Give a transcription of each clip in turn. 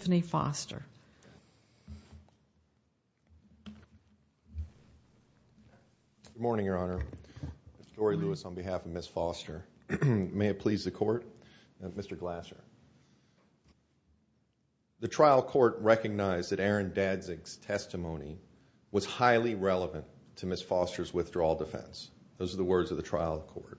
Good morning, Your Honor, Mr. Dory Lewis on behalf of Ms. Foster. May it please the Court? Mr. Glasser. The trial court recognized that Aaron Danzig's testimony was highly relevant to Ms. Foster's withdrawal defense. Those are the words of the trial court.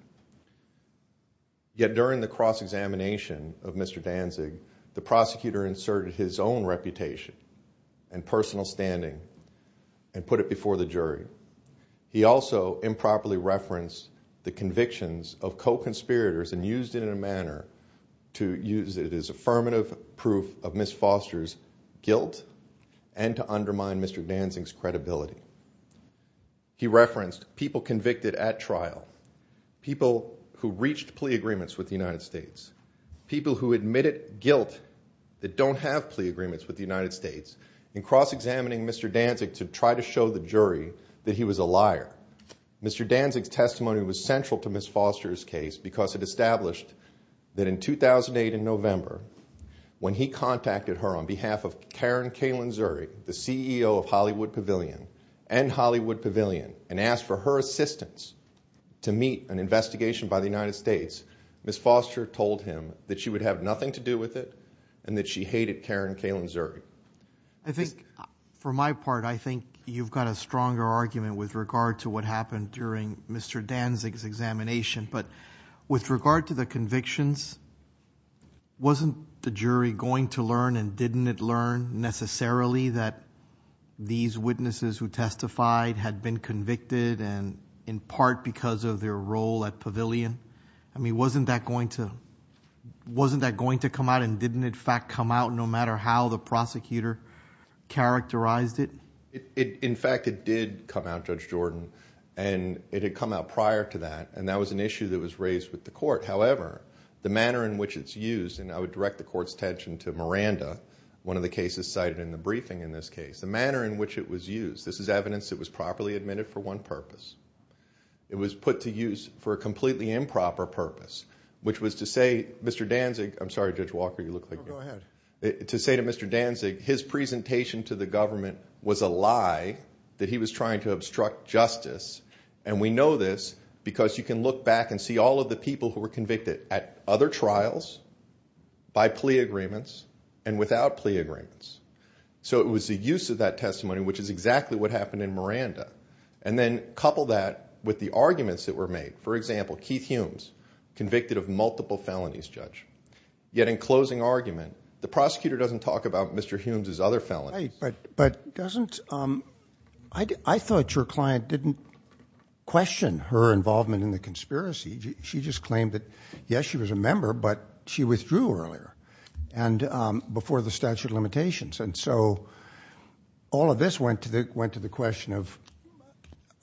Yet during the cross-examination of Mr. Danzig, the prosecutor inserted his own reputation and personal standing and put it before the jury. He also improperly referenced the convictions of co-conspirators and used it in a manner to use it as affirmative proof of Ms. Foster's guilt and to undermine Mr. Danzig's credibility. He referenced people convicted at trial, people who reached plea agreements with the United States, people who admitted guilt that don't have plea agreements with the United States in cross-examining Mr. Danzig to try to show the jury that he was a liar. Mr. Danzig's testimony was central to Ms. Foster's case because it established that in 2008 in November, when he contacted her on behalf of Karen Kalin Zuri, the CEO of Hollywood Pavilion and Hollywood Pavilion, and asked for her assistance to meet an investigation by the United States, Ms. Foster told him that she would have nothing to do with it and that she hated Karen Kalin Zuri. I think, for my part, I think you've got a stronger argument with regard to what happened during Mr. Danzig's examination. But with regard to the convictions, wasn't the jury going to learn and didn't it learn necessarily that these witnesses who testified had been convicted? I mean, wasn't that going to come out and didn't in fact come out no matter how the prosecutor characterized it? In fact, it did come out, Judge Jordan, and it had come out prior to that, and that was an issue that was raised with the court. However, the manner in which it's used, and I would direct the court's attention to Miranda, one of the cases cited in the briefing in this case. The manner in which it was used, this is evidence that was properly admitted for one purpose. It was put to use for a completely improper purpose, which was to say, Mr. Danzig, his presentation to the government was a lie, that he was trying to obstruct justice, and we know this because you can look back and see all of the people who were convicted at other trials, by plea agreements, and without plea agreements. So it was the use of that and then couple that with the arguments that were made. For example, Keith Humes, convicted of multiple felonies, Judge. Yet in closing argument, the prosecutor doesn't talk about Mr. Humes' other felonies. But doesn't, I thought your client didn't question her involvement in the conspiracy. She just claimed that, yes, she was a member, but she withdrew earlier and before the statute limitations. And so all of this went to the question of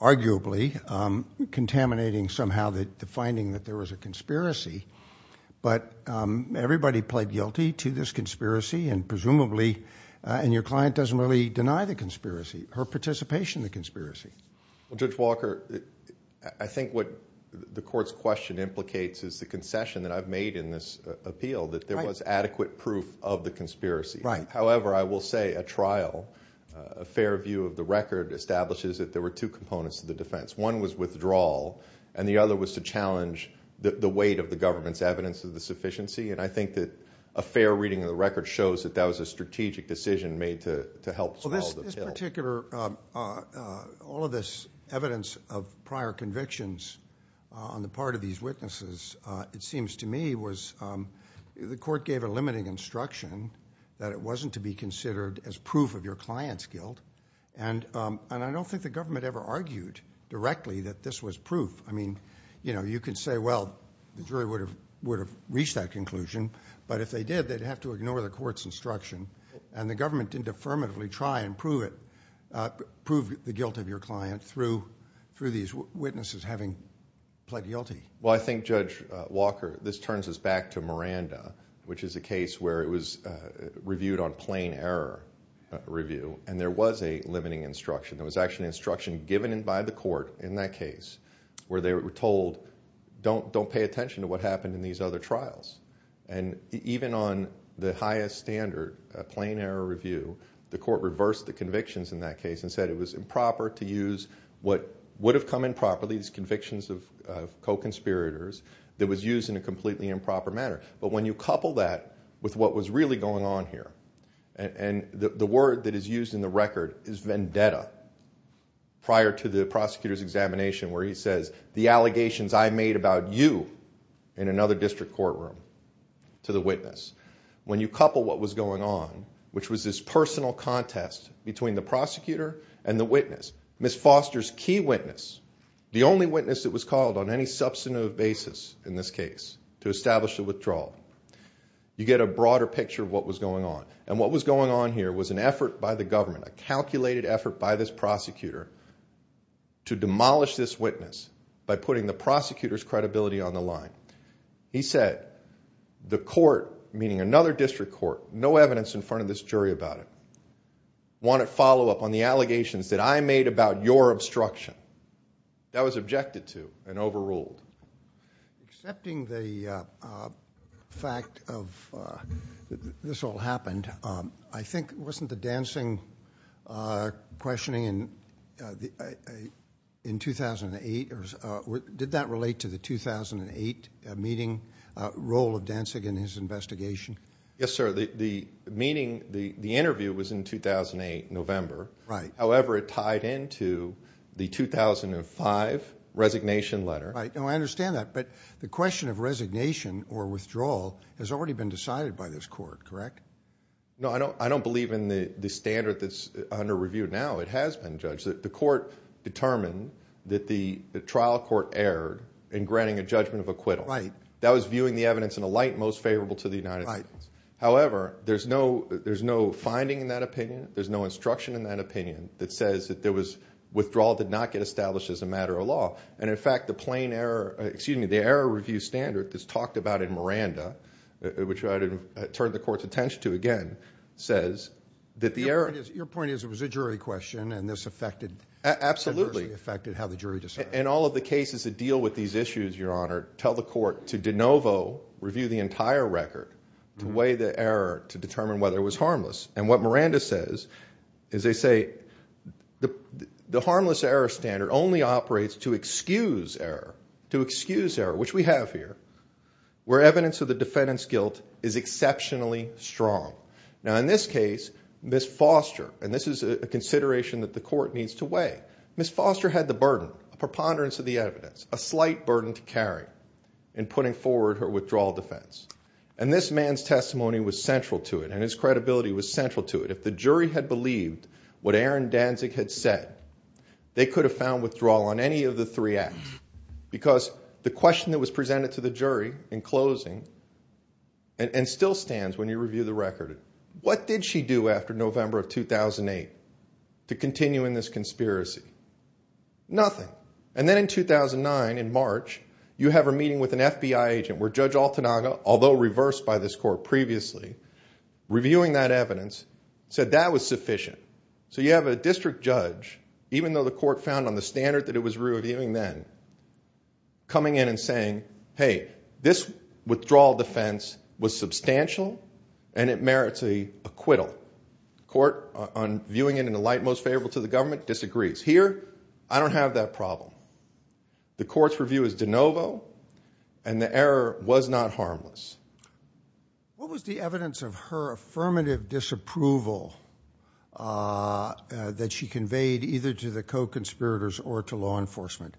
arguably contaminating somehow the finding that there was a conspiracy. But everybody pled guilty to this conspiracy, and presumably, and your client doesn't really deny the conspiracy, her participation in the conspiracy. Judge Walker, I think what the court's question implicates is the concession that I've made in this appeal, that there was adequate proof of the conspiracy. However, I will say a trial, a fair view of the record, establishes that there were two components to the defense. One was withdrawal, and the other was to challenge the weight of the government's evidence of the sufficiency. And I think that a fair reading of the record shows that that was a strategic decision made to help swallow the pill. Well, this particular, all of this evidence of prior convictions on the part of these witnesses, the court gave a limiting instruction that it wasn't to be considered as proof of your client's guilt. And I don't think the government ever argued directly that this was proof. I mean, you know, you could say, well, the jury would have reached that conclusion, but if they did, they'd have to ignore the court's instruction. And the government didn't affirmatively try and prove it, prove the guilt of your client through these witnesses having pled guilty. Well, I think, Judge Walker, this turns us back to Miranda, which is a case where it was reviewed on plain error review, and there was a limiting instruction. There was actually instruction given by the court in that case where they were told, don't pay attention to what happened in these other trials. And even on the highest standard, a plain error review, the court reversed the convictions in that case and said it was improper to use what would have come improperly, these convictions of co-conspirators, that was used in a completely improper manner. But when you couple that with what was really going on here, and the word that is used in the record is vendetta, prior to the prosecutor's examination where he says, the allegations I made about you in another district courtroom to the witness. When you couple what was going on, which was this personal contest between the prosecutor and the witness, Ms. Foster's key witness, the only witness that was called on any substantive basis in this case to establish the withdrawal, you get a broader picture of what was going on. And what was going on here was an effort by the government, a calculated effort by this prosecutor to demolish this witness by putting the prosecutor's credibility on the line. He said, the court, meaning another district court, no evidence in front of this allegations that I made about your obstruction. That was objected to and overruled. Excepting the fact of this all happened, I think, wasn't the dancing questioning in 2008, or did that relate to the 2008 meeting, role of dancing in his investigation? Yes, sir. The meeting, the interview was in 2008, November. However, it tied into the 2005 resignation letter. I understand that. But the question of resignation or withdrawal has already been decided by this court, correct? No, I don't believe in the standard that's under review now. It has been judged. The court determined that the trial court erred in granting a judgment of acquittal. That I was viewing the evidence in a light most favorable to the United States. However, there's no finding in that opinion. There's no instruction in that opinion that says that withdrawal did not get established as a matter of law. And in fact, the error review standard that's talked about in Miranda, which I would turn the court's attention to again, says that the error... Your point is it was a jury question and this adversely affected how the jury decided. In all of the cases that deal with these issues, Your Honor, tell the court to de novo review the entire record to weigh the error to determine whether it was harmless. And what Miranda says is they say the harmless error standard only operates to excuse error, to excuse error, which we have here, where evidence of the defendant's guilt is exceptionally strong. Now in this case, Ms. Foster, and this is a consideration that the court needs to weigh, Ms. Foster had the burden, a preponderance of the evidence, a slight burden to carry in putting forward her withdrawal defense. And this man's testimony was central to it and his credibility was central to it. If the jury had believed what Aaron Danzig had said, they could have found withdrawal on any of the three acts. Because the question that was presented to the jury in closing, and still stands when you review the record, what did she do after November of 2008 to continue in this conspiracy? Nothing. And then in 2009, in March, you have a meeting with an FBI agent where Judge Altanaga, although reversed by this court previously, reviewing that evidence, said that was sufficient. So you have a district judge, even though the court found on the standard that it was reviewing then, coming in and saying, hey, this withdrawal defense was substantial and it merits more acquittal. The court, on viewing it in the light most favorable to the government, disagrees. Here, I don't have that problem. The court's review is de novo and the error was not harmless. What was the evidence of her affirmative disapproval that she conveyed either to the co-conspirators or to law enforcement?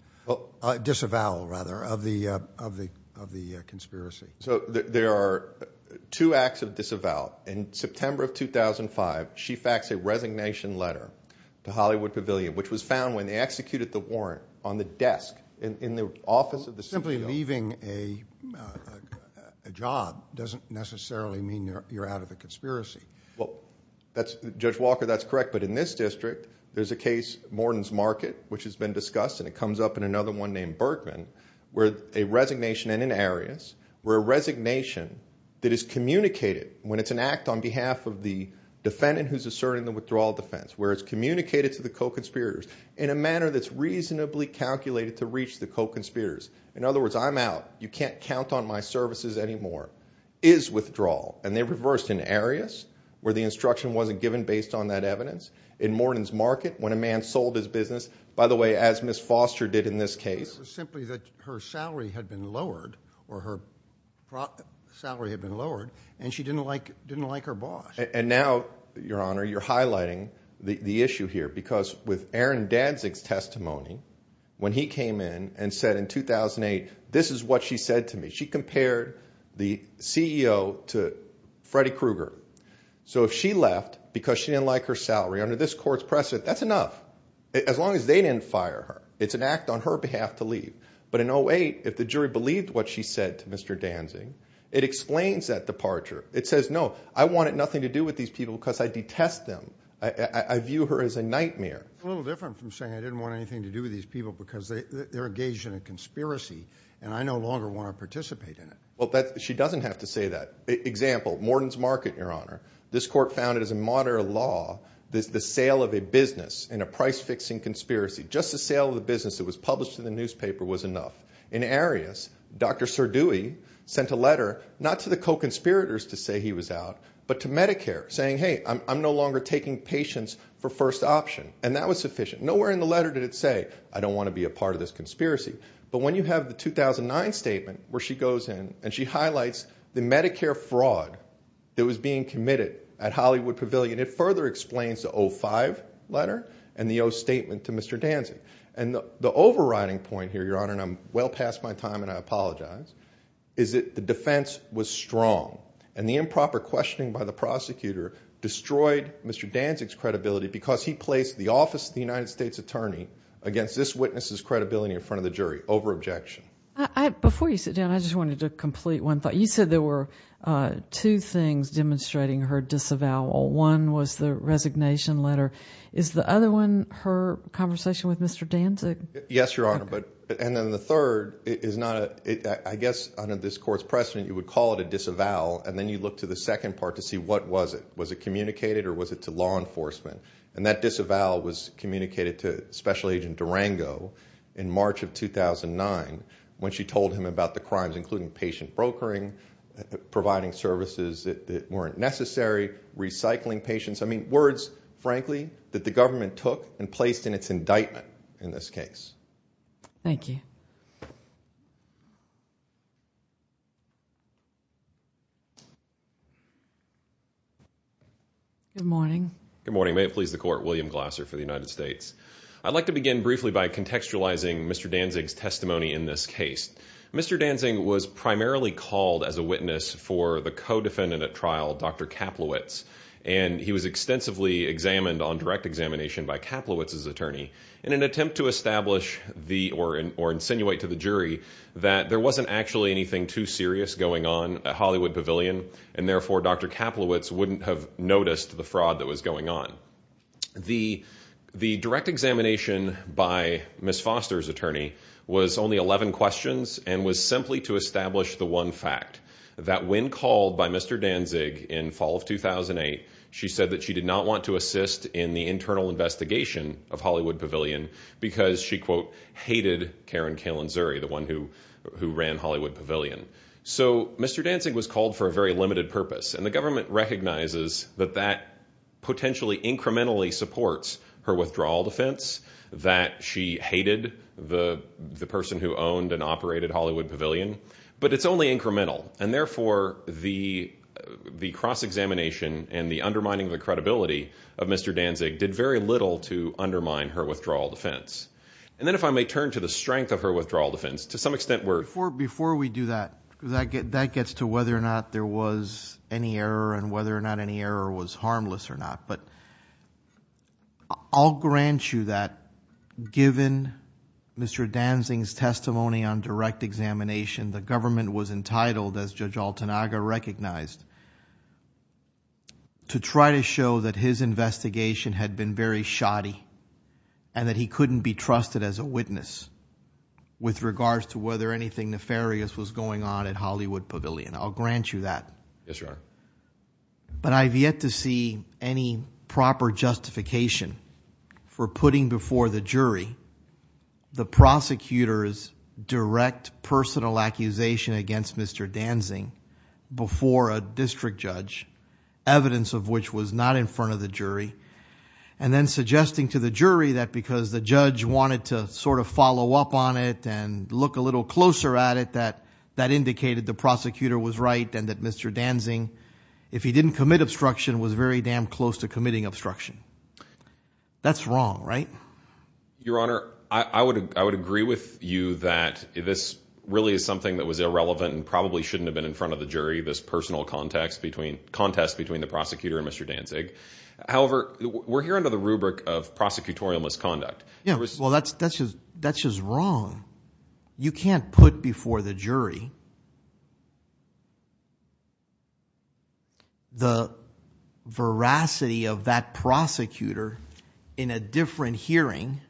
Disavowal, rather, of the conspiracy. So there are two acts of disavowal. In September of 2005, she faxed a resignation letter to Hollywood Pavilion, which was found when they executed the warrant on the desk in the office of the CEO. Simply leaving a job doesn't necessarily mean you're out of the conspiracy. Judge Walker, that's correct. But in this district, there's a case, Morton's Market, which has been discussed, and it comes up in another one named Bergman, where a resignation and an arias were a resignation that is communicated when it's an act on behalf of the defendant who's asserting the withdrawal defense, where it's communicated to the co-conspirators in a manner that's reasonably calculated to reach the co-conspirators. In other words, I'm out. You can't count on my services anymore, is withdrawal. And they reversed in arias, where the instruction wasn't given based on that evidence. In Morton's Market, when a man sold his business, by the way, as Ms. Foster did in this case. It was simply that her salary had been lowered, or her salary had been lowered, and she didn't like her boss. And now, Your Honor, you're highlighting the issue here, because with Aaron Danzig's testimony, when he came in and said in 2008, this is what she said to me. She compared the CEO to Freddy Krueger. So if she left because she didn't like her salary under this court's press, that's enough. As long as they didn't fire her. It's an act on her behalf to leave. But in 2008, if the jury believed what she said to Mr. Danzig, it explains that departure. It says, no, I wanted nothing to do with these people because I detest them. I view her as a nightmare. A little different from saying I didn't want anything to do with these people because they're engaged in a conspiracy, and I no longer want to participate in it. Well, she doesn't have to say that. Example, Morton's Market, Your Honor. This court found that, as a modern law, the sale of a business in a price-fixing conspiracy, just the sale of the business that was published in the newspaper, was enough. In Arias, Dr. Sardouhi sent a letter, not to the co-conspirators to say he was out, but to Medicare, saying, hey, I'm no longer taking patients for first option. And that was sufficient. Nowhere in the letter did it say, I don't want to be a part of this conspiracy. But when you have the 2009 statement, where she goes in and she highlights the Medicare fraud that was being committed at Hollywood Pavilion, it further explains the 05 letter and the 0 statement to Mr. Danzig. And the overriding point here, Your Honor, and I'm well past my time and I apologize, is that the defense was strong. And the improper questioning by the prosecutor destroyed Mr. Danzig's credibility because he placed the office of the United States Attorney against this witness's credibility in front of the jury over objection. Before you sit down, I just wanted to complete one thought. You said there were two things demonstrating her disavowal. One was the resignation letter. Is the other one her conversation with Mr. Danzig? Yes, Your Honor. And then the third, I guess under this court's precedent, you would call it a disavowal, and then you look to the second part to see what was it. Was it communicated or was it to law enforcement? And that disavowal was communicated to Special Agent Durango in March of 2009 when she told him about the crimes, including patient brokering, providing services that weren't necessary, recycling patients. I mean, words, frankly, that the government took and placed in its indictment in this case. Thank you. Good morning. Good morning. May it please the Court, William Glasser for the United States. I'd like to begin briefly by contextualizing Mr. Danzig's testimony in this case. Mr. Danzig was primarily called as a witness for the co-defendant at trial, Dr. Kaplowitz, and he was extensively examined on direct examination by Kaplowitz's attorney in an attempt to establish or insinuate to the jury that there wasn't actually anything too serious going on at Hollywood Pavilion, and therefore Dr. Kaplowitz wouldn't have noticed the fraud that was going on. The direct examination by Ms. Foster's attorney was only 11 questions and was simply to establish the one fact, that when called by Mr. Danzig in fall of 2008, she said that she did not want to assist in the internal investigation of Hollywood Pavilion because she, quote, hated Karen Kaelin Zuri, the one who ran Hollywood Pavilion. So Mr. Danzig was called for a very supports her withdrawal defense, that she hated the person who owned and operated Hollywood Pavilion, but it's only incremental, and therefore the cross-examination and the undermining of the credibility of Mr. Danzig did very little to undermine her withdrawal defense. And then if I may turn to the strength of her withdrawal defense, to some extent where... Before we do that, that gets to whether or not there was any error and whether or not any error was harmless or not, but I'll grant you that given Mr. Danzig's testimony on direct examination, the government was entitled, as Judge Altanaga recognized, to try to show that his investigation had been very shoddy and that he couldn't be trusted as a witness with regards to whether anything nefarious was on at Hollywood Pavilion. I'll grant you that. Yes, Your Honor. But I've yet to see any proper justification for putting before the jury the prosecutor's direct personal accusation against Mr. Danzig before a district judge, evidence of which was not in front of the jury, and then suggesting to the jury that because the judge wanted to sort of follow up on it and look a little closer at it, that that indicated the prosecutor was right and that Mr. Danzig, if he didn't commit obstruction, was very damn close to committing obstruction. That's wrong, right? Your Honor, I would agree with you that this really is something that was irrelevant and probably shouldn't have been in front of the jury, this personal contest between the prosecutor and Mr. Danzig. However, we're here under the rubric of prosecutorial misconduct. Yeah, well, that's just wrong. You can't put before the jury the veracity of that prosecutor in a different hearing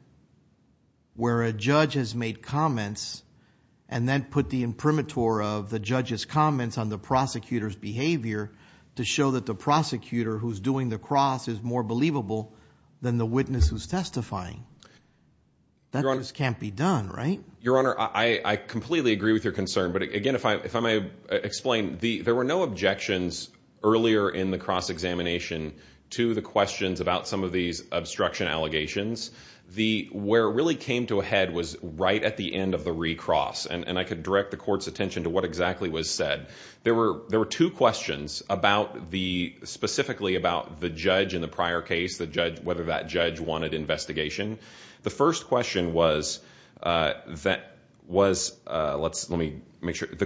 where a judge has made comments and then put the imprimatur of the judge's comments on the prosecutor's behavior to show that the prosecutor who's doing the cross is more believable than the witness who's testifying. That just can't be done, right? Your Honor, I completely agree with your concern, but again, if I may explain, there were no objections earlier in the cross examination to the questions about some of these obstruction allegations. Where it really came to a head was right at the end of the recross, and I could direct the court's attention to what exactly was said. There were two questions specifically about the judge in the prior case, whether that judge wanted investigation. The first question was, the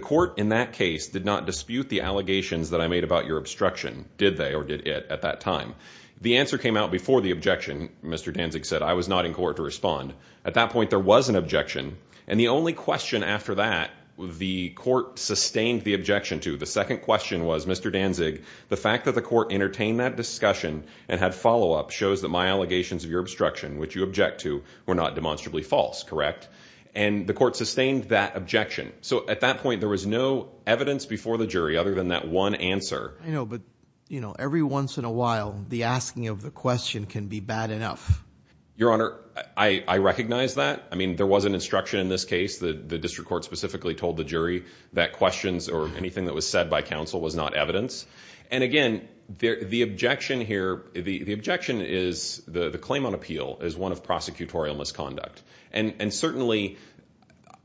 court in that case did not dispute the allegations that I made about your obstruction, did they, or did it at that time? The answer came out before the objection. Mr. Danzig said, I was not in court to respond. At that point, there was an objection, and the only question after that the court sustained the objection to. The second question was, Mr. Danzig, the fact that the court entertained that discussion and had follow-up shows that my allegations of your obstruction, which you object to, were not demonstrably false, correct? And the court sustained that objection. So at that point, there was no evidence before the jury other than that one answer. I know, but you know, every once in a while, the asking of the question can be bad enough. Your Honor, I recognize that. I mean, there was an instruction in this case. The district court specifically told the jury that questions or anything that was said by counsel was not evidence. And again, the objection here, the objection is, the claim on appeal is one of prosecutorial misconduct. And certainly,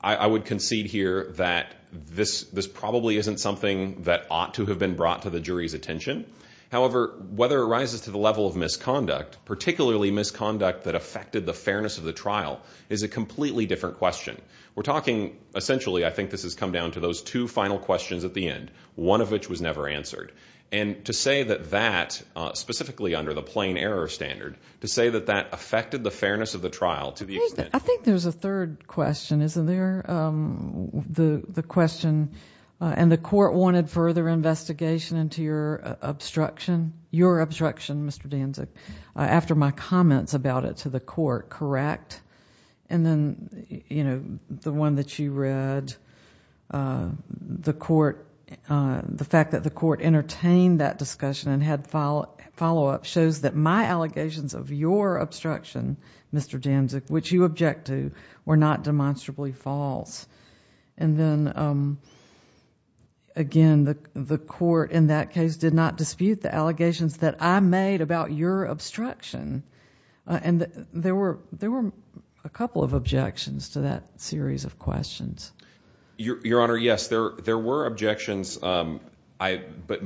I would concede here that this probably isn't something that ought to have been brought to the jury's attention. However, whether it rises to the level of misconduct, particularly misconduct that affected the fairness of the trial, is a completely different question. We're talking, essentially, I think this has come down to those two final questions at the end, one of which was never answered. And to say that that, specifically under the plain error standard, to say that that affected the fairness of the trial to the extent... I think there's a third question, isn't there? The question, and the court wanted further investigation into your obstruction, your obstruction, Mr. Danzig, after my comments about it to the court, correct? And then, you know, the one that you read, the court, the fact that the court entertained that discussion and had follow-up shows that my allegations of your obstruction, Mr. Danzig, which you object to, were not demonstrably false. And then, again, the court in that case did not dispute the allegations that I made about your obstruction. And there were a couple of objections to that series of questions. Your Honor, yes, there were objections. But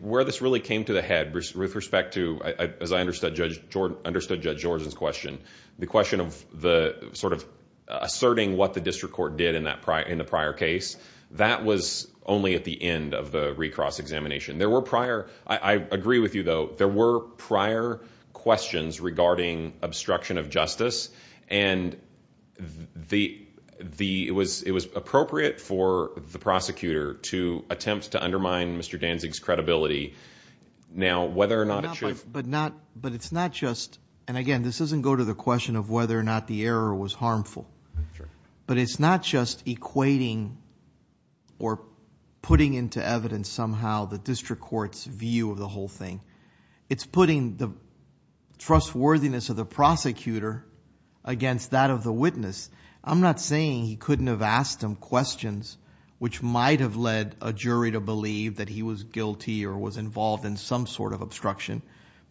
where this really came to the head, with respect to, as I understood Judge Jordan's question, the question of the sort of asserting what the district court did in the prior case, that was only at the end of the recross examination. I agree with you, though. There were prior questions regarding obstruction of justice. And it was appropriate for the prosecutor to attempt to undermine Mr. Danzig's credibility. Now, whether or not it should... But it's not just... And again, this doesn't go to the question of whether or not the error was harmful. But it's not just equating or putting into evidence somehow the district court's view of the whole thing. It's putting the trustworthiness of the prosecutor against that of the witness. I'm not saying he couldn't have asked him questions which might have led a jury to believe that he was guilty or was involved in some sort of obstruction.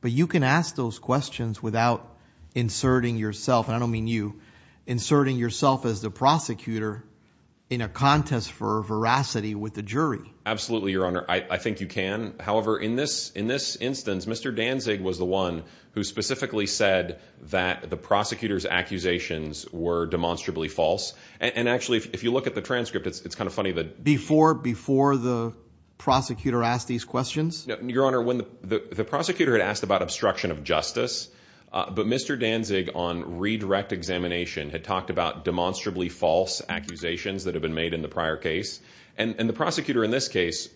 But you can ask those questions without inserting yourself, and I don't mean you, inserting yourself as the prosecutor in a contest for veracity with the jury. Absolutely, Your Honor. I think you can. However, in this instance, Mr. Danzig was the one who specifically said that the prosecutor's accusations were demonstrably false. And actually, if you look at the transcript, it's kind of funny that... Before the prosecutor asked these questions? Your Honor, when the prosecutor had asked about obstruction of justice, but Mr. Danzig, on redirect examination, had talked about demonstrably false accusations that had been made in the prior case. And the prosecutor in this case,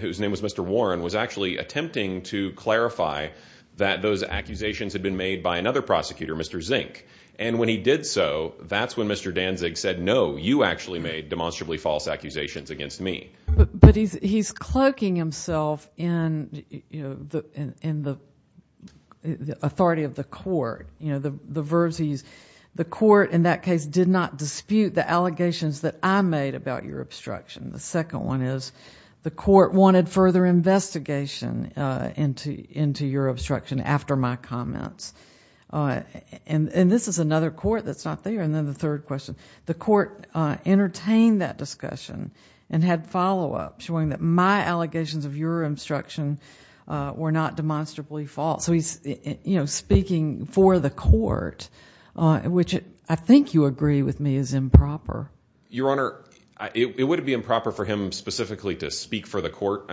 whose name was Mr. Warren, was actually attempting to clarify that those accusations had been made by another prosecutor, Mr. Zink. And when he did so, that's when Mr. Danzig said, no, you actually made demonstrably false accusations against me. But he's cloaking himself in the authority of the allegations that I made about your obstruction. The second one is the court wanted further investigation into your obstruction after my comments. And this is another court that's not there. And then the third question, the court entertained that discussion and had follow-up showing that my allegations of your obstruction were not demonstrably false. So he's speaking for the court, which I think you agree with me is improper. Your Honor, it wouldn't be improper for him specifically to speak for the court.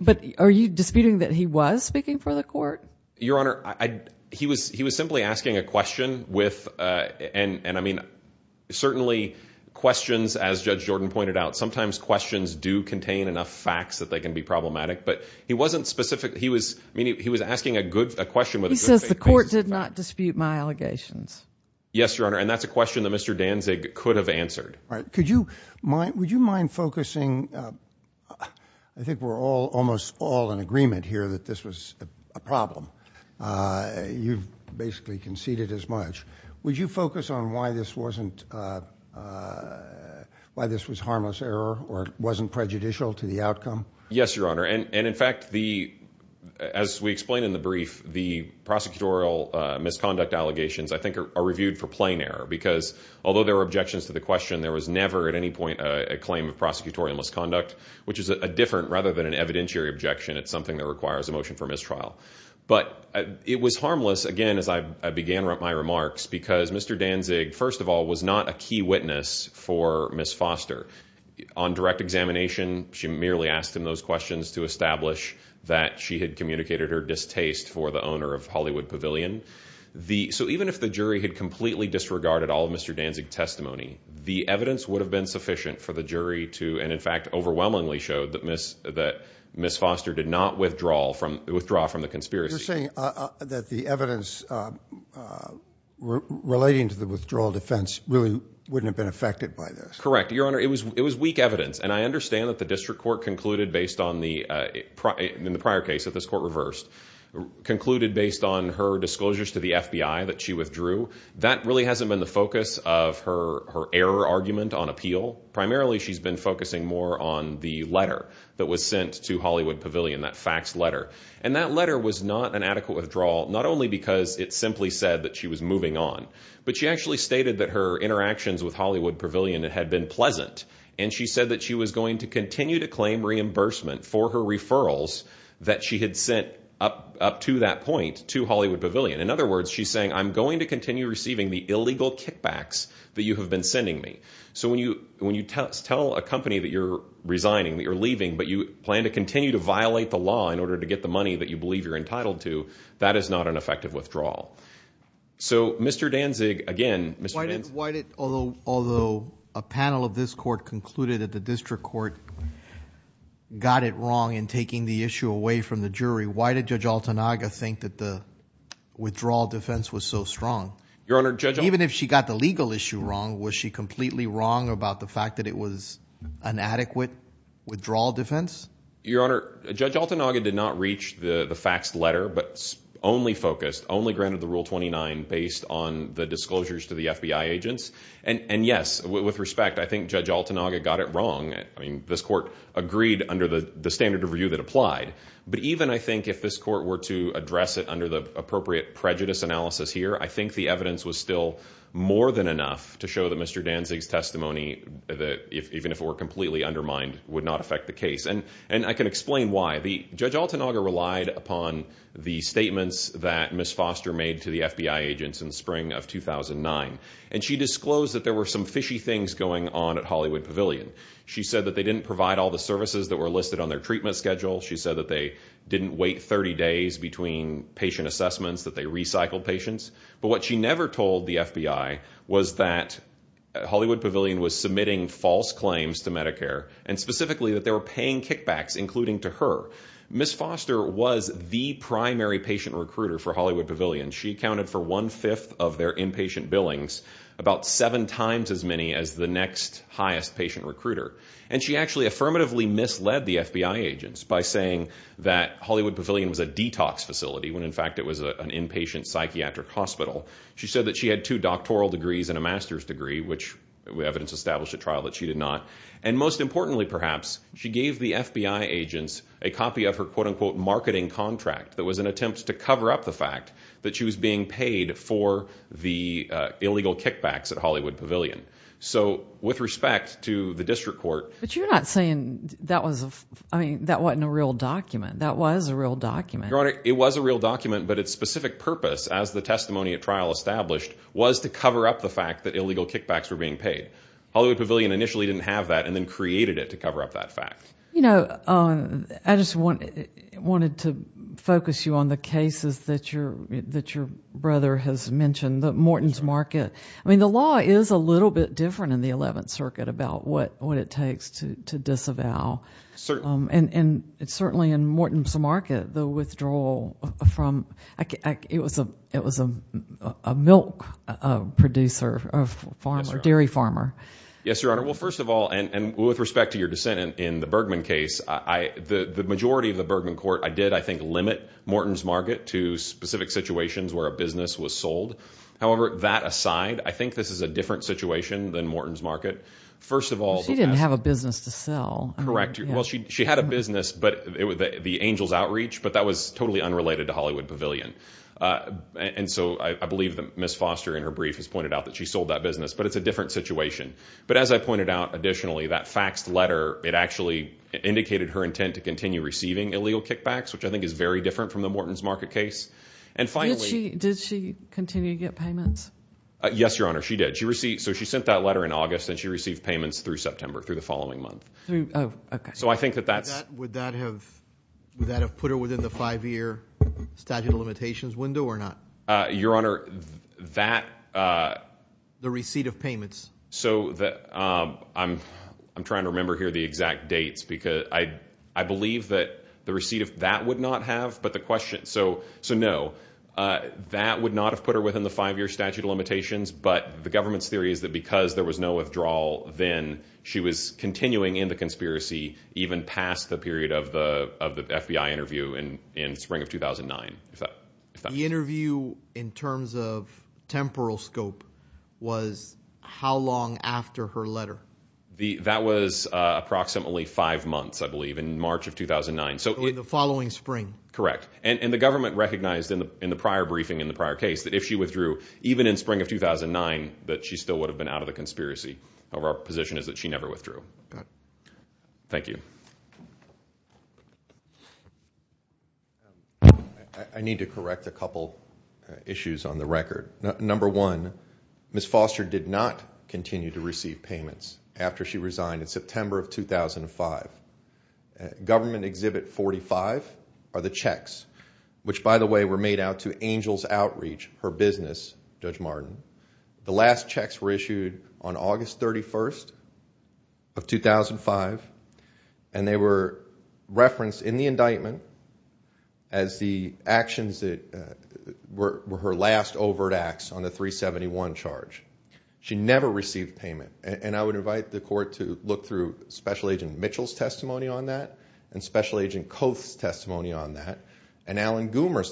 But are you disputing that he was speaking for the court? Your Honor, he was simply asking a question with... And I mean, certainly questions, as Judge Jordan pointed out, sometimes questions do contain enough facts that they can be disputed. Yes, Your Honor. And that's a question that Mr. Danzig could have answered. Would you mind focusing... I think we're almost all in agreement here that this was a problem. You've basically conceded as much. Would you focus on why this was harmless error or wasn't prejudicial to the outcome? Yes, Your Honor. And in fact, as we explained in the brief, the prosecutorial misconduct allegations, I think, are reviewed for plain error. Because although there were objections to the question, there was never at any point a claim of prosecutorial misconduct, which is a different rather than an evidentiary objection. It's something that requires a motion for mistrial. But it was harmless, again, as I began my remarks, because Mr. Danzig, first of all, was not a key witness for Ms. Foster. On direct examination, she merely asked him those questions to establish that she had communicated her distaste for the owner of Hollywood Pavilion. So even if the jury had completely disregarded all of Mr. Danzig's testimony, the evidence would have been sufficient for the jury to... And in fact, overwhelmingly showed that Ms. Foster did not withdraw from the conspiracy. You're saying that the evidence relating to the withdrawal defense really wouldn't have been affected by this. Correct. Your Honor, it was weak evidence. And I understand that the district court concluded based on the prior case that this court reversed, concluded based on her disclosures to the FBI that she withdrew. That really hasn't been the focus of her error argument on appeal. Primarily, she's been focusing more on the letter that was sent to Hollywood Pavilion, that faxed letter. And that letter was not an adequate withdrawal, not only because it simply said that she was moving on, but she actually stated that her interactions with Hollywood Pavilion had been pleasant. And she said that she was going to continue to claim reimbursement for her referrals that she had sent up to that point to Hollywood Pavilion. In other words, she's saying, I'm going to continue receiving the illegal kickbacks that you have been sending me. So when you tell a company that you're resigning, that you plan to continue to violate the law in order to get the money that you believe you're entitled to, that is not an effective withdrawal. So Mr. Danzig, again, Mr. Danzig... Why did, although a panel of this court concluded that the district court got it wrong in taking the issue away from the jury, why did Judge Altanaga think that the withdrawal defense was so strong? Your Honor, Judge... Even if she got the legal issue wrong, was she completely wrong about the fact that it was an adequate withdrawal defense? Your Honor, Judge Altanaga did not reach the faxed letter, but only focused, only granted the Rule 29 based on the disclosures to the FBI agents. And yes, with respect, I think Judge Altanaga got it wrong. I mean, this court agreed under the standard of review that applied. But even I think if this court were to address it under the appropriate prejudice analysis here, I think the evidence was still more than enough to show that Mr. Danzig's even if it were completely undermined, would not affect the case. And I can explain why. The Judge Altanaga relied upon the statements that Ms. Foster made to the FBI agents in spring of 2009. And she disclosed that there were some fishy things going on at Hollywood Pavilion. She said that they didn't provide all the services that were listed on their treatment schedule. She said that they didn't wait 30 days between patient assessments, that they recycled patients. But what she never told the FBI was that Hollywood Pavilion was submitting false claims to Medicare, and specifically that they were paying kickbacks, including to her. Ms. Foster was the primary patient recruiter for Hollywood Pavilion. She accounted for one-fifth of their inpatient billings, about seven times as many as the next highest patient recruiter. And she actually affirmatively misled the FBI agents by saying that Hollywood Pavilion was a detox facility, when in fact it was an inpatient psychiatric hospital. She said that she had two doctoral degrees and a master's degree, which evidence established at trial that she did not. And most importantly, perhaps, she gave the FBI agents a copy of her quote-unquote marketing contract that was an attempt to cover up the fact that she was being paid for the illegal kickbacks at Hollywood Pavilion. So with respect to the district court... But you're not saying that wasn't a real document. That was a real established was to cover up the fact that illegal kickbacks were being paid. Hollywood Pavilion initially didn't have that, and then created it to cover up that fact. You know, I just wanted to focus you on the cases that your brother has mentioned, the Morton's Market. I mean, the law is a little bit different in the 11th Circuit about what it takes to disavow. And certainly in Morton's Market, the withdrawal from... It was a milk producer, dairy farmer. Yes, Your Honor. Well, first of all, and with respect to your dissent in the Bergman case, the majority of the Bergman court, I did, I think, limit Morton's Market to specific situations where a business was sold. However, that aside, I think this is a different situation than Morton's Market. First of all... She didn't have a business to sell. Correct. Well, she had a business, the Angels Outreach, but that was totally unrelated to Hollywood Pavilion. And so I believe that Ms. Foster in her brief has pointed out that she sold that business, but it's a different situation. But as I pointed out, additionally, that faxed letter, it actually indicated her intent to continue receiving illegal kickbacks, which I think is very different from the Morton's Market case. And finally... She sent that letter in August and she received payments through September, through the following month. Oh, okay. So I think that that's... Would that have put her within the five-year statute of limitations window or not? Your Honor, that... The receipt of payments. I'm trying to remember here the exact dates because I believe that the receipt of that would not have, but the question... So no, that would not have put her within the five-year statute of limitations, but the government's because there was no withdrawal, then she was continuing in the conspiracy, even past the period of the FBI interview in spring of 2009. The interview in terms of temporal scope was how long after her letter? That was approximately five months, I believe, in March of 2009. So in the following spring. Correct. And the government recognized in the prior briefing, in the prior case, that if she withdrew, even in spring of 2009, that she still would have been out of the conspiracy. However, our position is that she never withdrew. Thank you. I need to correct a couple issues on the record. Number one, Ms. Foster did not continue to receive payments after she resigned in September of 2005. Government Exhibit 45 are the checks, which by the way, were made out to Angel's Outreach, her business, Judge Martin. The last checks were issued on August 31st of 2005, and they were referenced in the indictment as the actions that were her last overt acts on the 371 charge. She never received payment, and I would invite the court to look through Special Agent Mitchell's testimony on that, and Special Agent Koth's testimony on that, and Alan Goomer's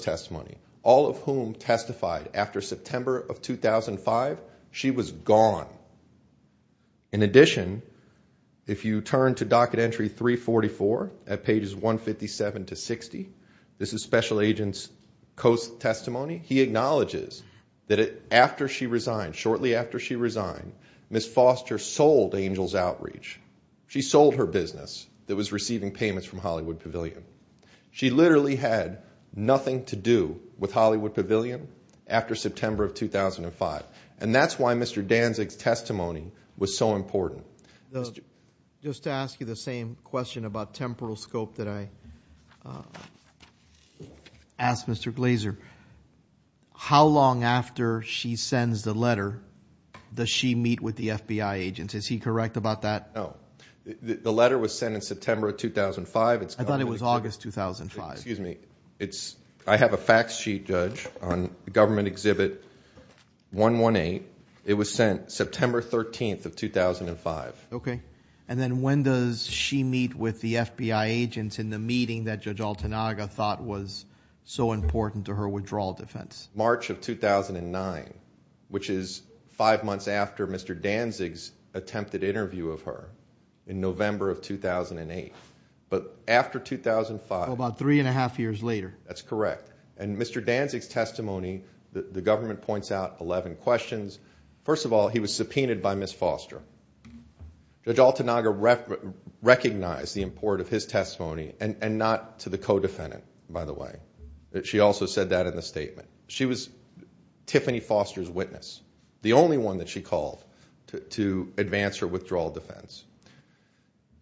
after September of 2005, she was gone. In addition, if you turn to Docket Entry 344, at pages 157 to 60, this is Special Agent Koth's testimony, he acknowledges that shortly after she resigned, Ms. Foster sold Angel's Outreach. She sold her business that was receiving payments from Hollywood Pavilion. She literally had nothing to do with Hollywood Pavilion after September of 2005, and that's why Mr. Danzig's testimony was so important. Just to ask you the same question about temporal scope that I asked Mr. Glazer, how long after she sends the letter does she meet with the FBI agents? Is he August 2005? I have a fact sheet, Judge, on Government Exhibit 118. It was sent September 13th of 2005. Okay, and then when does she meet with the FBI agents in the meeting that Judge Altanaga thought was so important to her withdrawal defense? March of 2009, which is five months after Danzig's attempted interview of her in November of 2008, but after 2005. About three and a half years later. That's correct, and Mr. Danzig's testimony, the government points out 11 questions. First of all, he was subpoenaed by Ms. Foster. Judge Altanaga recognized the importance of his testimony, and not to the co-defendant, by the way. She also said that in the statement. She was to advance her withdrawal defense.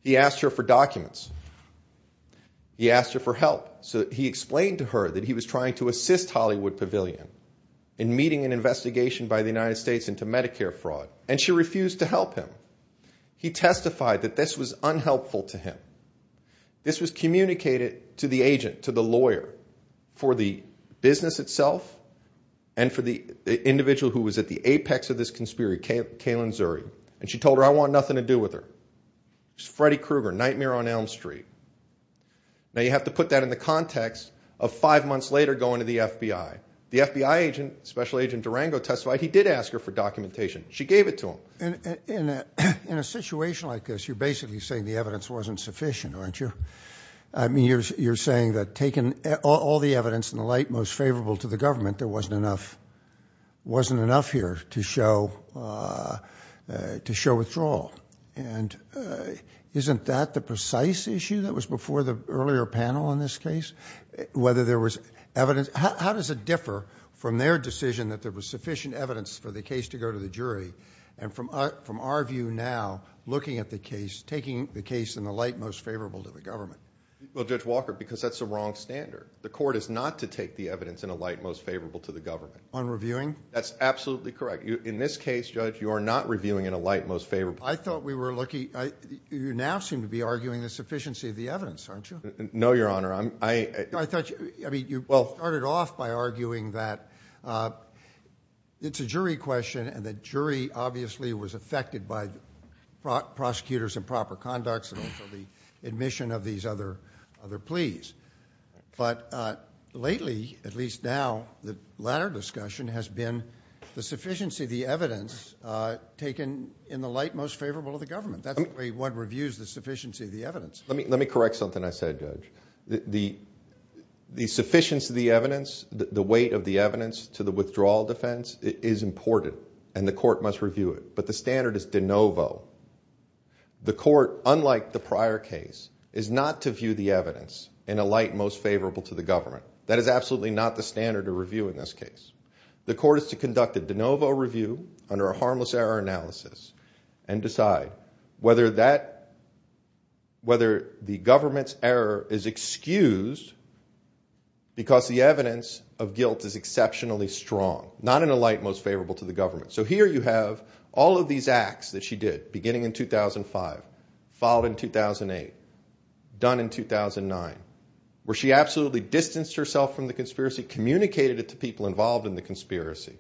He asked her for documents. He asked her for help. So he explained to her that he was trying to assist Hollywood Pavilion in meeting an investigation by the United States into Medicare fraud, and she refused to help him. He testified that this was unhelpful to him. This was communicated to the agent, to the lawyer, for the business itself, and for the individual who was at the apex of this conspiracy, Kalen Zuri. And she told her, I want nothing to do with her. It was Freddy Krueger, Nightmare on Elm Street. Now, you have to put that in the context of five months later going to the FBI. The FBI agent, Special Agent Durango testified, he did ask her for documentation. She gave it to him. And in a situation like this, you're basically saying the evidence wasn't sufficient, aren't you? I mean, you're saying that taking all the evidence in the light most favorable to the government, there wasn't enough here to show withdrawal. And isn't that the precise issue that was before the earlier panel on this case? How does it differ from their decision that there was sufficient evidence for the case to go to the jury, and from our view now, looking at the case, in the light most favorable to the government? Well, Judge Walker, because that's the wrong standard. The court is not to take the evidence in a light most favorable to the government. On reviewing? That's absolutely correct. In this case, Judge, you are not reviewing in a light most favorable. I thought we were looking, you now seem to be arguing the sufficiency of the evidence, aren't you? No, Your Honor. I thought you, I mean, you started off by arguing that it's a jury question, and the jury obviously was affected by prosecutors' improper conducts, and also the admission of these other pleas. But lately, at least now, the latter discussion has been the sufficiency of the evidence taken in the light most favorable to the government. That's the way one reviews the sufficiency of the evidence. Let me correct something I said, Judge. The sufficiency of the evidence, the weight of the evidence to the withdrawal defense is important, and the court must review it. But the standard is de novo. The court, unlike the prior case, is not to view the evidence in a light most favorable to the government. That is absolutely not the standard to review in this case. The court is to conduct a de novo review under a harmless error analysis and decide whether the government's error is excused because the evidence of guilt is exceptionally strong, not in a light most favorable to the government. So here you have all of these acts that she did, beginning in 2005, followed in 2008, done in 2009, where she absolutely distanced herself from the conspiracy, communicated it to people involved in the conspiracy.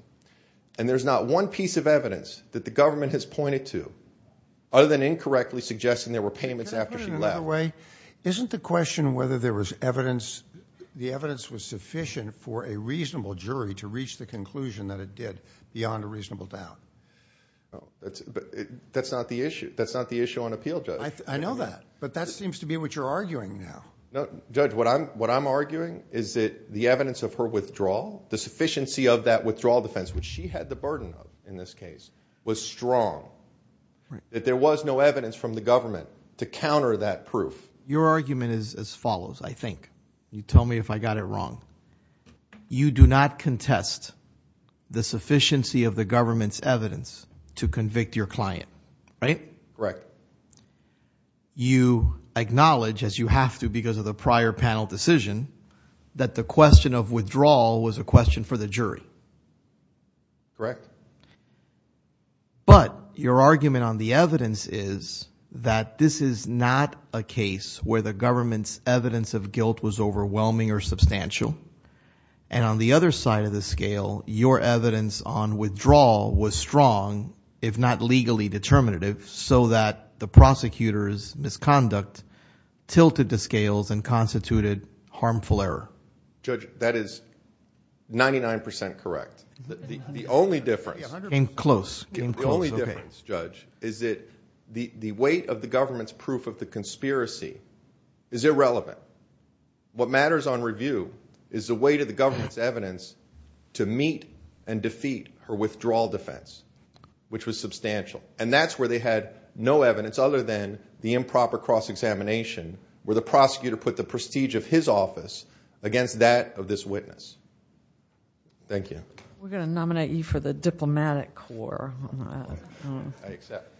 And there's not one piece of evidence that the government has pointed to other than incorrectly suggesting there were payments after she left. Isn't the question whether the evidence was sufficient for a reasonable jury to reach the conclusion that it did beyond a reasonable doubt? That's not the issue on appeal, Judge. I know that, but that seems to be what you're arguing now. Judge, what I'm arguing is that the evidence of her withdrawal, the sufficiency of that withdrawal defense, which she had the burden of in this case, was strong, that there was no proof. Your argument is as follows, I think. You tell me if I got it wrong. You do not contest the sufficiency of the government's evidence to convict your client, right? Correct. You acknowledge, as you have to because of the prior panel decision, that the question of withdrawal was a question for the jury. Correct. Correct. But your argument on the evidence is that this is not a case where the government's evidence of guilt was overwhelming or substantial. And on the other side of the scale, your evidence on withdrawal was strong, if not legally determinative, so that the prosecutor's misconduct tilted the scales and constituted harmful error. Judge, that is 99% correct. The only difference, the only difference, Judge, is that the weight of the government's proof of the conspiracy is irrelevant. What matters on review is the weight of the government's evidence to meet and defeat her withdrawal defense, which was substantial. And that's where they had no evidence other than the improper cross-examination, where the prosecutor put the prestige of his office against that of this witness. Thank you. We're going to nominate you for the diplomatic corps. I accept.